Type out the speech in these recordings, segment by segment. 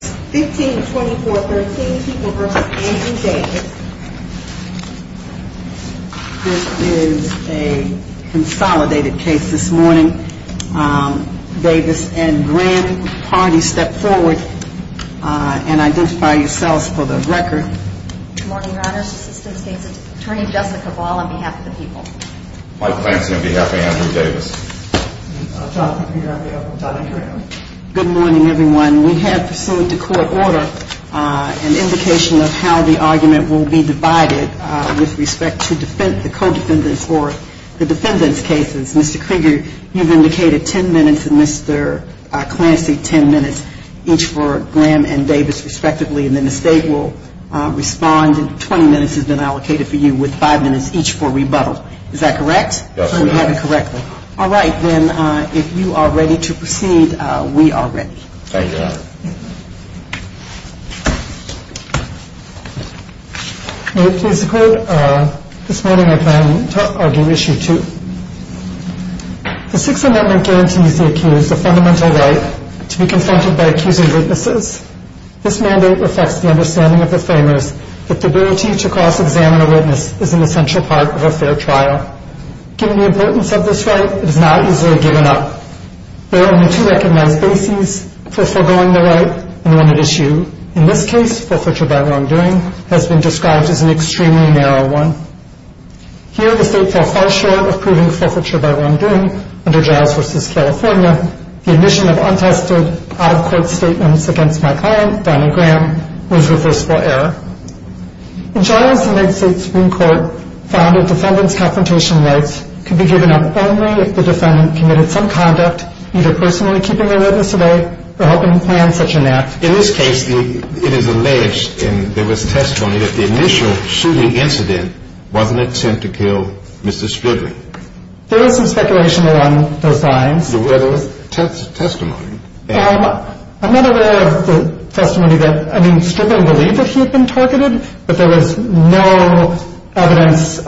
15, 24, 13 people versus Andrew Davis. This is a consolidated case this morning. Davis and Graham party step forward and identify yourselves for the record. Good morning, Your Honors. Assistant State's Attorney Jessica Ball on behalf of the people. Mike Lansing on behalf of Andrew Davis. Jonathan Peter on behalf of Jonathan Graham. Good morning, everyone. We have pursued to court order an indication of how the argument will be divided with respect to the co-defendants or the defendants' cases. Mr. Krieger, you've indicated 10 minutes and Mr. Clancy 10 minutes, each for Graham and Davis, respectively. And then the State will respond. 20 minutes has been allocated for you with 5 minutes each for rebuttal. Is that correct? Yes, ma'am. All right, then, if you are ready to proceed, we are ready. Thank you, Your Honor. May it please the Court, this morning I plan to argue issue 2. The Sixth Amendment guarantees the accused a fundamental right to be confronted by accusing witnesses. This mandate reflects the understanding of the framers that the ability to cross-examine a witness is an essential part of a fair trial. Given the importance of this right, it is not easily given up. There are only two recognized bases for foregoing the right and one at issue. In this case, forfeiture by wrongdoing has been described as an extremely narrow one. Here, the State fell far short of proving forfeiture by wrongdoing under Giles v. California. The admission of untested, out-of-court statements against my client, Donna Graham, was reversible error. In Giles, the United States Supreme Court found a defendant's confrontation rights could be given up only if the defendant committed some conduct, either personally keeping a witness away or helping plan such an act. In this case, it is alleged, and there was testimony, that the initial shooting incident was an attempt to kill Mr. Strickland. There is some speculation along those lines. But there was testimony. I'm not aware of the testimony that, I mean, Strickland believed that he had been targeted, but there was no evidence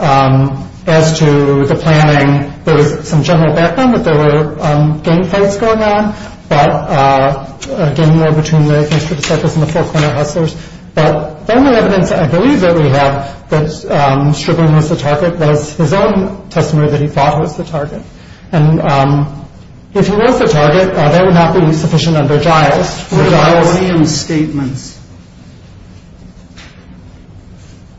as to the planning. There was some general background that there were gang fights going on, but, again, more between the gangster disciples and the four-corner hustlers. But the only evidence I believe that we have that Strickland was the target was his own testimony that he thought was the target. And if he was the target, that would not be sufficient under Giles. What about Williams statements?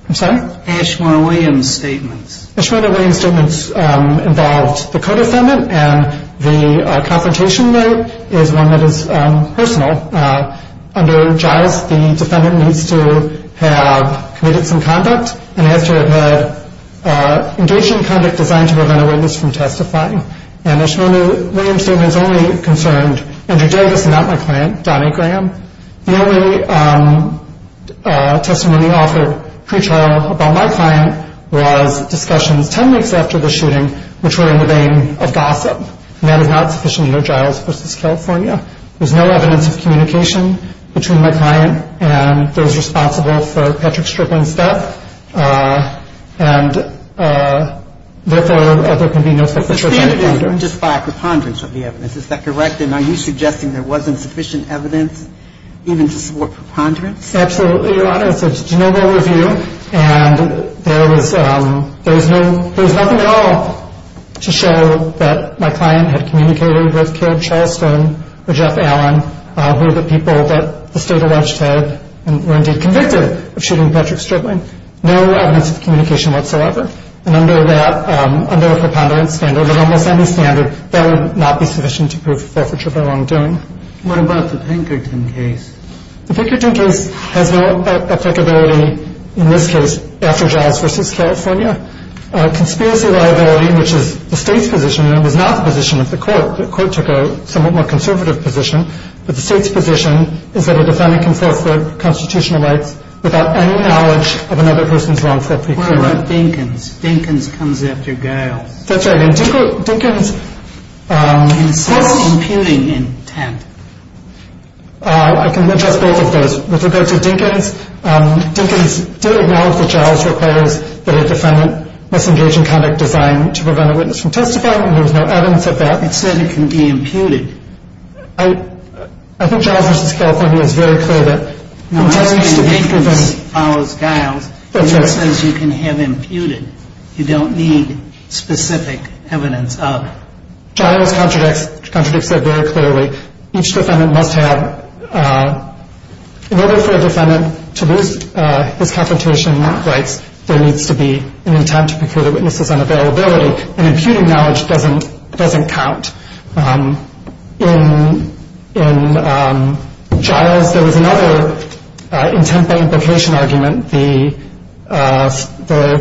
I'm sorry? Ashmore-Williams statements. Ashmore-Williams statements involved the co-defendant, and the confrontation right is one that is personal. Under Giles, the defendant needs to have committed some conduct, and has to have engaged in conduct designed to prevent a witness from testifying. And Ashmore-Williams statements only concerned Andrew Davis and not my client, Donnie Graham. The only testimony offered pre-trial about my client was discussions 10 weeks after the shooting, which were in the vein of gossip, and that is not sufficient under Giles v. California. There's no evidence of communication between my client and those responsible for Patrick Strickland's death, and, therefore, there can be no such a trip. But the stand is just by a preponderance of the evidence. Is that correct? And are you suggesting there wasn't sufficient evidence even to support preponderance? Absolutely, Your Honor. It's a general review, and there was nothing at all to show that my client had communicated with Karen Charleston or Jeff Allen, who are the people that the state alleged had and were indeed convicted of shooting Patrick Strickland. No evidence of communication whatsoever. And under a preponderance standard, almost any standard, that would not be sufficient to prove forfeiture by long doing. What about the Pinkerton case? The Pinkerton case has no applicability in this case after Giles v. California. Conspiracy liability, which is the state's position and was not the position of the court, the court took a somewhat more conservative position, but the state's position is that a defendant can forfeit constitutional rights without any knowledge of another person's wrongful plea. What about Dinkins? Dinkins comes after Giles. That's right. And Dinkins- In self-imputing intent. I can address both of those. With regard to Dinkins, Dinkins did acknowledge that Giles requires that a defendant must engage in conduct designed to prevent a witness from testifying, and there was no evidence of that. It said it can be imputed. I think Giles v. California is very clear that- No, I'm saying Dinkins follows Giles. That's right. And it says you can have imputed. You don't need specific evidence of- Giles contradicts that very clearly. Each defendant must have, in order for a defendant to lose his confrontation rights, there needs to be an attempt to procure the witness's unavailability. And imputing knowledge doesn't count. In Giles, there was another intent by implication argument. The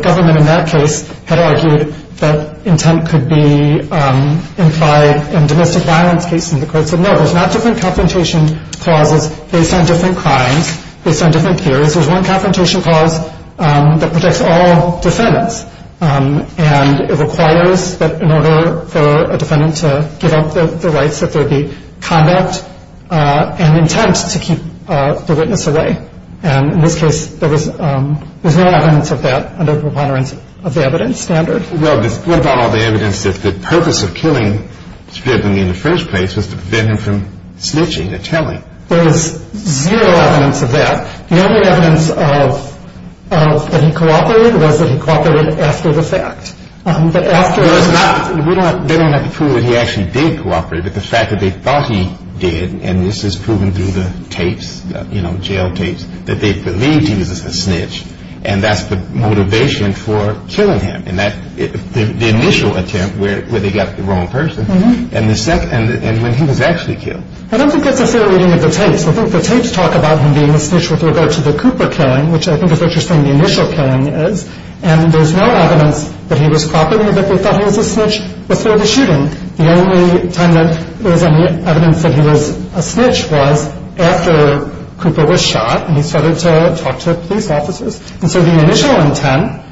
government in that case had argued that intent could be implied in domestic violence cases. And the court said, no, there's not different confrontation clauses based on different crimes, based on different theories. There's one confrontation clause that protects all defendants, and it requires that in order for a defendant to give up the rights, that there be conduct and intent to keep the witness away. And in this case, there was no evidence of that under the preponderance of the evidence standard. Well, what about all the evidence that the purpose of killing Scribd in the first place was to prevent him from snitching and telling? There was zero evidence of that. The only evidence of that he cooperated was that he cooperated after the fact. But after he was not. They don't have to prove that he actually did cooperate, but the fact that they thought he did, and this is proven through the tapes, you know, jail tapes, that they believed he was a snitch. And that's the motivation for killing him. And the initial attempt where they got the wrong person, and when he was actually killed. I don't think that's a fair reading of the tapes. I think the tapes talk about him being a snitch with regard to the Cooper killing, which I think is what you're saying the initial killing is. And there's no evidence that he was properly that they thought he was a snitch before the shooting. The only time that there was any evidence that he was a snitch was after Cooper was shot, and he started to talk to police officers. And so the initial intent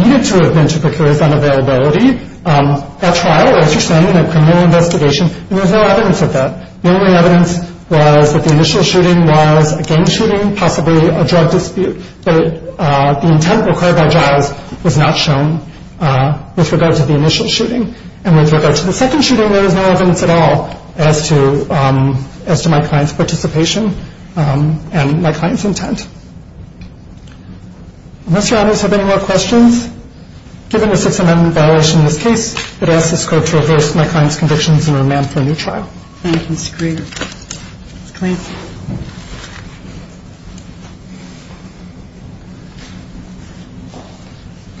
needed to have been to procure his unavailability. At trial, as you're saying, in a criminal investigation, there was no evidence of that. The only evidence was that the initial shooting was a gang shooting, possibly a drug dispute, but the intent required by jiles was not shown with regard to the initial shooting. And with regard to the second shooting, there was no evidence at all as to my client's participation and my client's intent. Unless your audience have any more questions, given the Sixth Amendment violation in this case, I'd ask this Court to reverse my client's convictions and remand for a new trial. Thank you. That's great. That's great.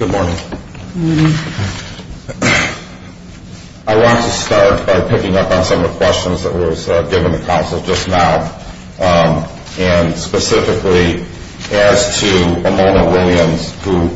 Good morning. Good morning. I want to start by picking up on some of the questions that were given to counsel just now, and specifically as to Mona Williams, who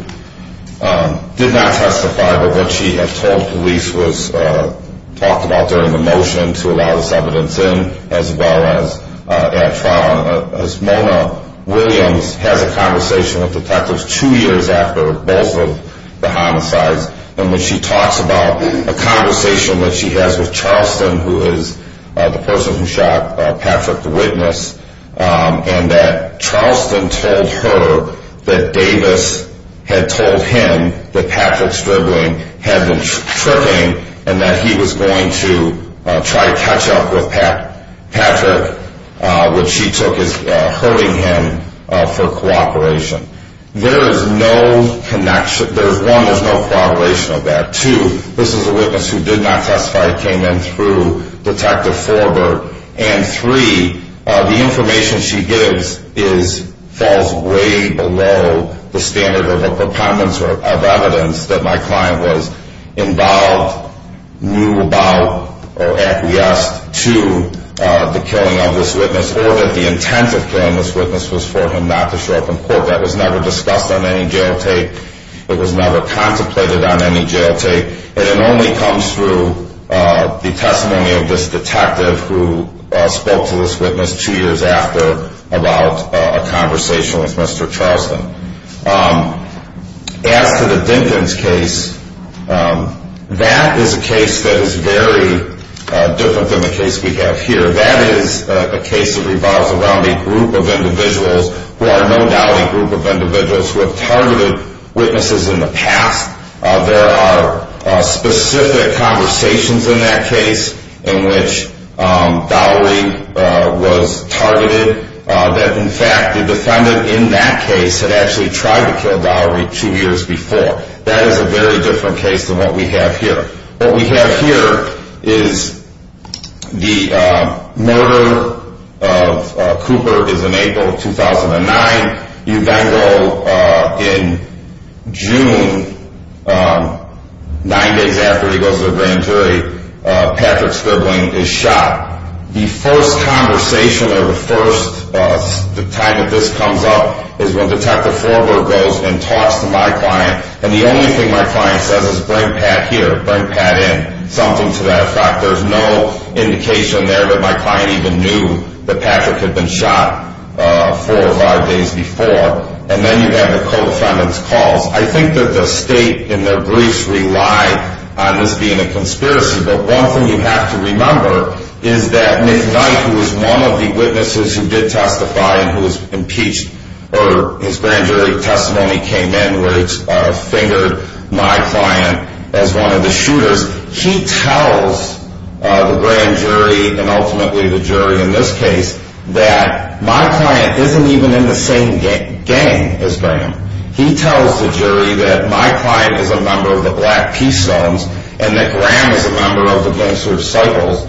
did not testify, but what she had told police was talked about during the motion to allow this evidence in, as well as at trial. As Mona Williams has a conversation with detectives two years after both of the homicides, and when she talks about a conversation that she has with Charleston, who is the person who shot Patrick, the witness, and that Charleston told her that Davis had told him that Patrick's dribbling had been tripping and that he was going to try to catch up with Patrick, which she took as hurting him for cooperation. There is no connection. One, there's no corroboration of that. Two, this is a witness who did not testify, came in through Detective Forbert. And three, the information she gives falls way below the standard of a preponderance of evidence that my client was involved, knew about, or acquiesced to the killing of this witness or that the intent of killing this witness was for him not to show up in court. That was never discussed on any jail take. It was never contemplated on any jail take. And it only comes through the testimony of this detective who spoke to this witness two years after about a conversation with Mr. Charleston. As to the Dinkins case, that is a case that is very different than the case we have here. That is a case that revolves around a group of individuals who are no doubt a group of individuals who have targeted witnesses in the past. There are specific conversations in that case in which Dowery was targeted, that in fact the defendant in that case had actually tried to kill Dowery two years before. That is a very different case than what we have here. What we have here is the murder of Cooper is in April of 2009. Evangelo in June, nine days after he goes to the grand jury, Patrick Scribbling is shot. The first conversation or the first time that this comes up is when Detective Foreberg goes and talks to my client and the only thing my client says is bring Pat here, bring Pat in, something to that effect. There is no indication there that my client even knew that Patrick had been shot four or five days before. And then you have the co-defendant's calls. I think that the state in their briefs rely on this being a conspiracy, but one thing you have to remember is that Nick Knight, who is one of the witnesses who did testify and who was impeached, or his grand jury testimony came in where it's fingered my client as one of the shooters. He tells the grand jury and ultimately the jury in this case that my client isn't even in the same gang as Graham. He tells the jury that my client is a member of the Black Peace Zones and that Graham is a member of the Gangster Recycles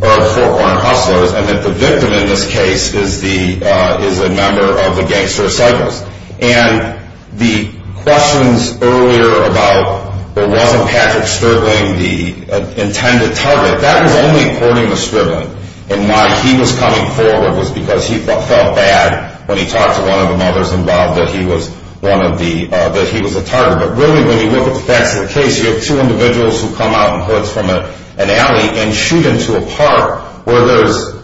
or Fort Warren Hustlers and that the victim in this case is a member of the Gangster Recycles. And the questions earlier about wasn't Patrick Sterling the intended target, that was only according to Sterling and why he was coming forward was because he felt bad when he talked to one of the mothers involved that he was a target. But really when you look at the facts of the case, you have two individuals who come out in hoods from an alley and shoot into a park where there's,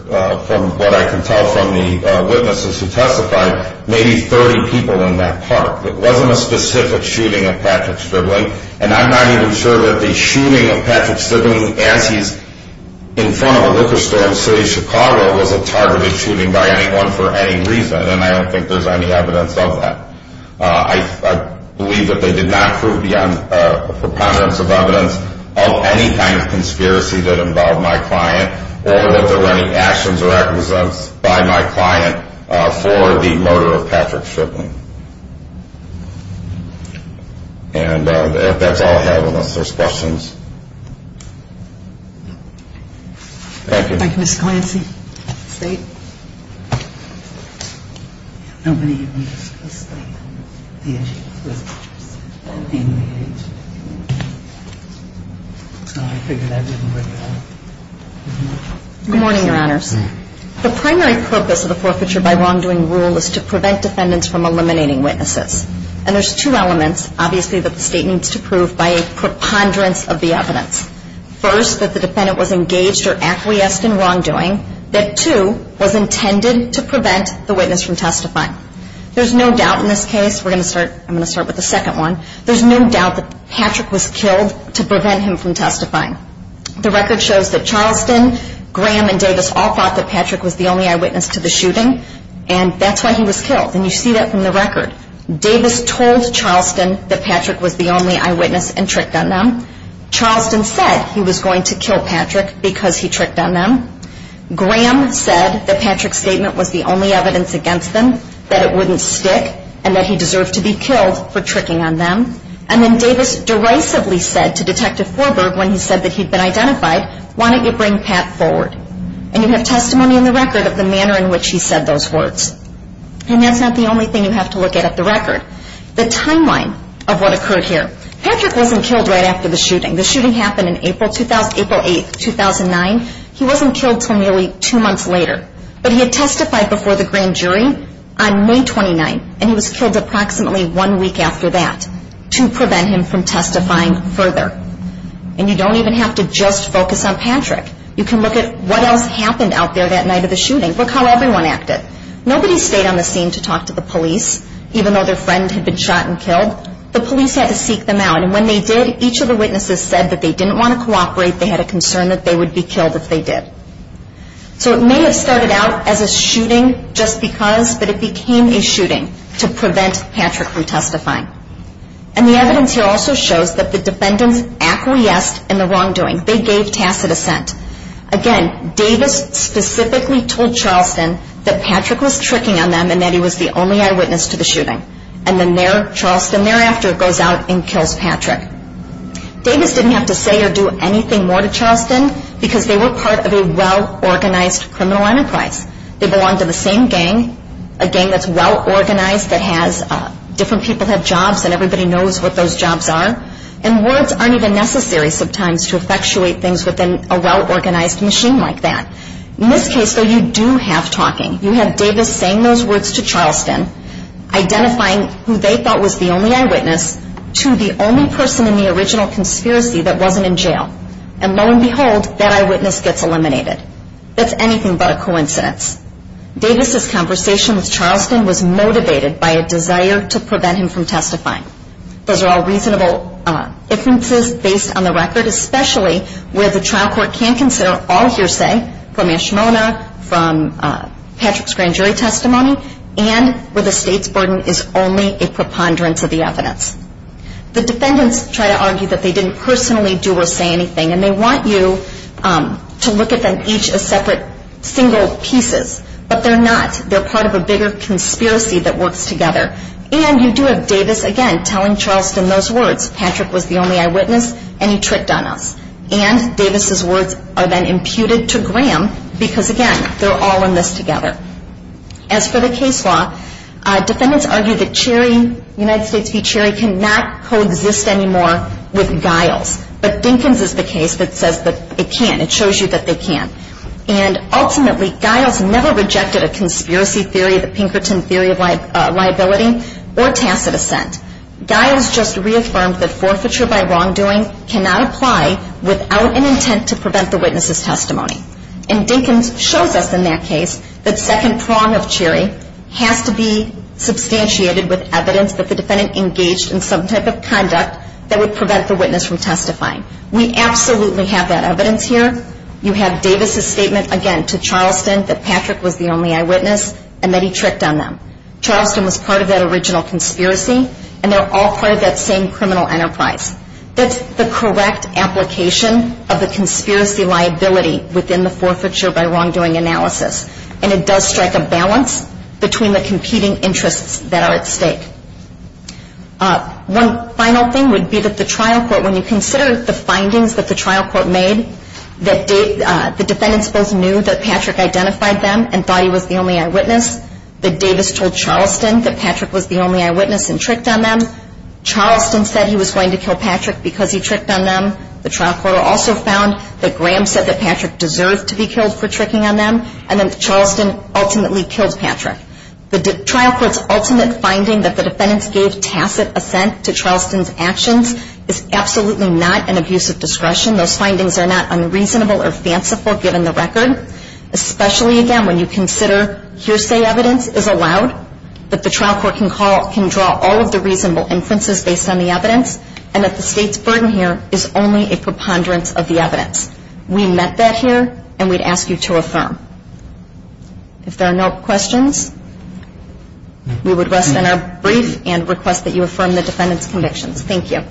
from what I can tell from the witnesses who testified, maybe 30 people in that park. It wasn't a specific shooting of Patrick Sterling and I'm not even sure that the shooting of Patrick Sterling as he's in front of a liquor store in the city of Chicago was a targeted shooting by anyone for any reason and I don't think there's any evidence of that. I believe that they did not prove beyond a preponderance of evidence of any kind of conspiracy that involved my client or that there were any actions or actions by my client for the murder of Patrick Sterling. And that's all I have unless there's questions. Thank you. Thank you, Ms. Clancy. Good morning, Your Honors. The primary purpose of the forfeiture by wrongdoing rule is to prevent defendants from eliminating witnesses and there's two elements obviously that the state needs to prove by a preponderance of the evidence. First, that the defendant was engaged or acquiesced in wrongdoing. That two, was intended to prevent the witness from testifying. There's no doubt in this case, we're going to start, I'm going to start with the second one, there's no doubt that Patrick was killed to prevent him from testifying. The record shows that Charleston, Graham and Davis all thought that Patrick was the only eyewitness to the shooting and that's why he was killed and you see that from the record. Davis told Charleston that Patrick was the only eyewitness and tricked on them. Charleston said he was going to kill Patrick because he tricked on them. Graham said that Patrick's statement was the only evidence against them, that it wouldn't stick and that he deserved to be killed for tricking on them and then Davis derisively said to Detective Forberg when he said that he'd been identified, why don't you bring Pat forward and you have testimony in the record of the manner in which he said those words and that's not the only thing you have to look at the record. The timeline of what occurred here, Patrick wasn't killed right after the shooting. The shooting happened April 8, 2009, he wasn't killed until nearly two months later but he had testified before the grand jury on May 29 and he was killed approximately one week after that to prevent him from testifying further. And you don't even have to just focus on Patrick, you can look at what else happened out there that night of the shooting. Look how everyone acted. Nobody stayed on the scene to talk to the police, even though their friend had been shot and killed. The police had to seek them out and when they did, each of the witnesses said that they didn't want to cooperate, they had a concern that they would be killed if they did. So it may have started out as a shooting just because, but it became a shooting to prevent Patrick from testifying. And the evidence here also shows that the defendants acquiesced in the wrongdoing, they gave tacit assent. Again, Davis specifically told Charleston that Patrick was tricking on them and that he was the only eyewitness to the shooting. And then Charleston thereafter goes out and kills Patrick. Davis didn't have to say or do anything more to Charleston because they were part of a well-organized criminal enterprise. They belonged to the same gang, a gang that's well-organized that has different people have jobs and everybody knows what those jobs are. And words aren't even necessary sometimes to effectuate things within a well-organized machine like that. In this case, though, you do have talking. You have Davis saying those words to Charleston, identifying who they thought was the only eyewitness to the only person in the original conspiracy that wasn't in jail. And lo and behold, that eyewitness gets eliminated. That's anything but a coincidence. Davis' conversation with Charleston was motivated by a desire to prevent him from testifying. Those are all reasonable differences based on the record, especially where the trial court can't consider all hearsay from Ashmona, from Patrick's grand jury testimony, and where the state's burden is only a preponderance of the evidence. The defendants try to argue that they didn't personally do or say anything, and they want you to look at them each as separate single pieces. But they're not. They're part of a bigger conspiracy that works together. And you do have Davis, again, telling Charleston those words. Patrick was the only eyewitness, and he tricked on us. And Davis' words are then imputed to Graham because, again, they're all in this together. As for the case law, defendants argue that Cherry, United States v. Cherry, cannot coexist anymore with Giles. But Dinkins is the case that says that it can. It shows you that they can. And ultimately, Giles never rejected a conspiracy theory, the Pinkerton theory of liability, or tacit assent. Giles just reaffirmed that forfeiture by wrongdoing cannot apply without an intent to prevent the witness's testimony. And Dinkins shows us in that case that second prong of Cherry has to be substantiated with evidence that the defendant engaged in some type of conduct that would prevent the witness from testifying. We absolutely have that evidence here. You have Davis' statement, again, to Charleston that Patrick was the only eyewitness and that he tricked on them. Charleston was part of that original conspiracy, and they're all part of that same criminal enterprise. That's the correct application of the conspiracy liability within the forfeiture by wrongdoing analysis. And it does strike a balance between the competing interests that are at stake. One final thing would be that the trial court, when you consider the findings that the trial court made, that the defendants both knew that Patrick identified them and thought he was the only eyewitness. That Davis told Charleston that Patrick was the only eyewitness and tricked on them. Charleston said he was going to kill Patrick because he tricked on them. The trial court also found that Graham said that Patrick deserved to be killed for tricking on them. And then Charleston ultimately killed Patrick. The trial court's ultimate finding that the defendants gave tacit assent to Charleston's actions is absolutely not an abusive discretion. Those findings are not unreasonable or fanciful, given the record, especially, again, when you consider hearsay evidence is allowed, that the trial court can draw all of the reasonable inferences based on the evidence, and that the state's burden here is only a preponderance of the evidence. We met that here, and we'd ask you to affirm. If there are no questions, we would rest on our brief and request that you affirm the defendants' convictions. Thank you.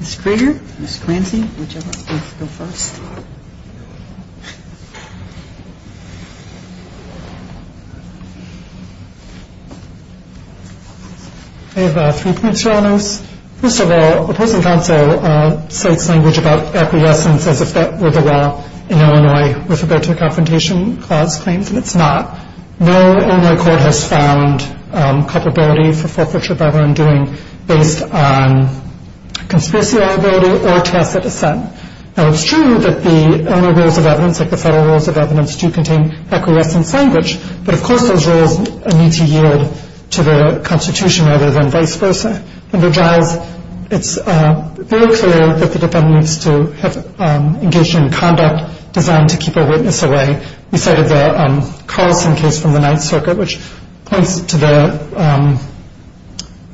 Ms. Kruger, Ms. Clancy, whichever of you wants to go first. First of all, opposing counsel cites language about acquiescence as if that were the law in Illinois with respect to the Confrontation Clause claims, and it's not. No Illinois court has found culpability for forfeiture by what I'm doing based on conspiracy liability or tacit assent. Now, it's true that the Illinois rules of evidence, like the federal rules of evidence, do contain acquiescence language, but of course those rules need to yield to the Constitution rather than vice versa. Under Giles, it's very clear that the defendant needs to have engaged in conduct designed to keep a witness away. We cited the Carlson case from the Ninth Circuit, which points to the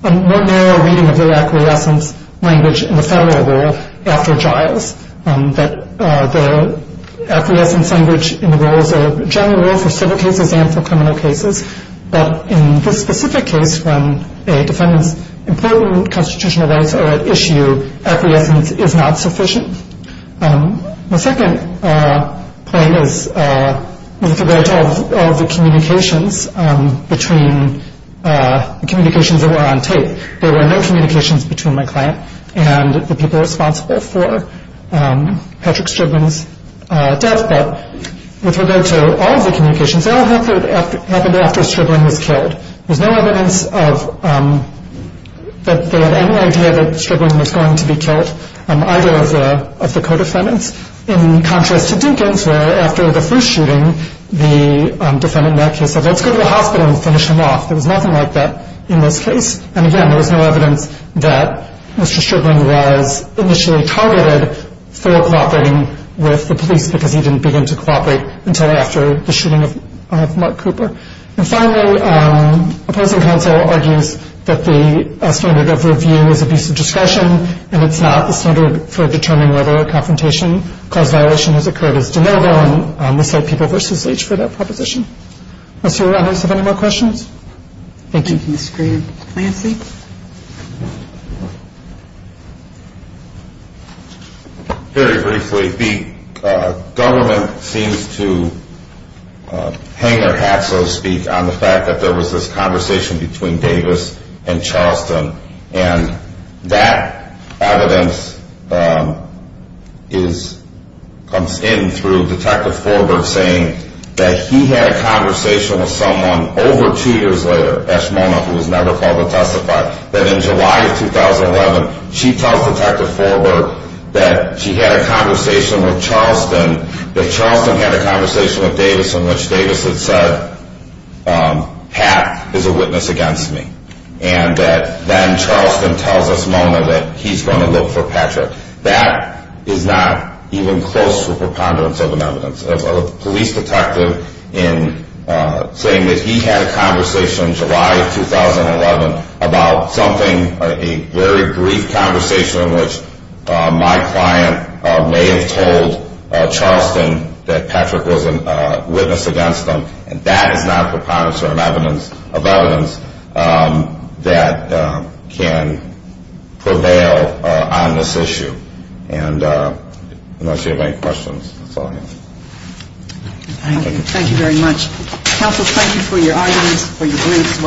more narrow reading of the acquiescence language in the federal rule after Giles, that the acquiescence language in the rules of general rule for civil cases and for criminal cases, but in this specific case when a defendant's important constitutional rights are at issue, acquiescence is not sufficient. My second point is with regard to all the communications between the communications that were on tape. There were no communications between my client and the people responsible for Patrick Strickland's death, but with regard to all of the communications, they all happened after Strickland was killed. There's no evidence that they had any idea that Strickland was going to be killed, either of the co-defendants. In contrast to Dinkins, where after the first shooting, the defendant in that case said, let's go to the hospital and finish him off. There was nothing like that in this case. And again, there was no evidence that Mr. Strickland was initially targeted for cooperating with the police because he didn't begin to cooperate until after the shooting of Mark Cooper. And finally, opposing counsel argues that the standard of review is abuse of discretion, and it's not the standard for determining whether a confrontation cause violation has occurred as de novo, Thank you. Thank you, Ms. Green. Very briefly, the government seems to hang their hats, so to speak, on the fact that there was this conversation between Davis and Charleston, and that evidence comes in through Detective Forberg saying that he had a conversation with someone over two years later, Eshmona, who was never called to testify, that in July of 2011, she tells Detective Forberg that she had a conversation with Charleston, that Charleston had a conversation with Davis in which Davis had said, Pat is a witness against me, and that then Charleston tells Eshmona that he's going to look for Patrick. That is not even close to a preponderance of an evidence. A police detective saying that he had a conversation in July of 2011 about something, a very brief conversation in which my client may have told Charleston that Patrick was a witness against them, and that is not a preponderance of evidence that can prevail on this issue. And unless you have any questions, that's all I have. Thank you. Thank you very much. Counsel, thank you for your arguments, for your briefs.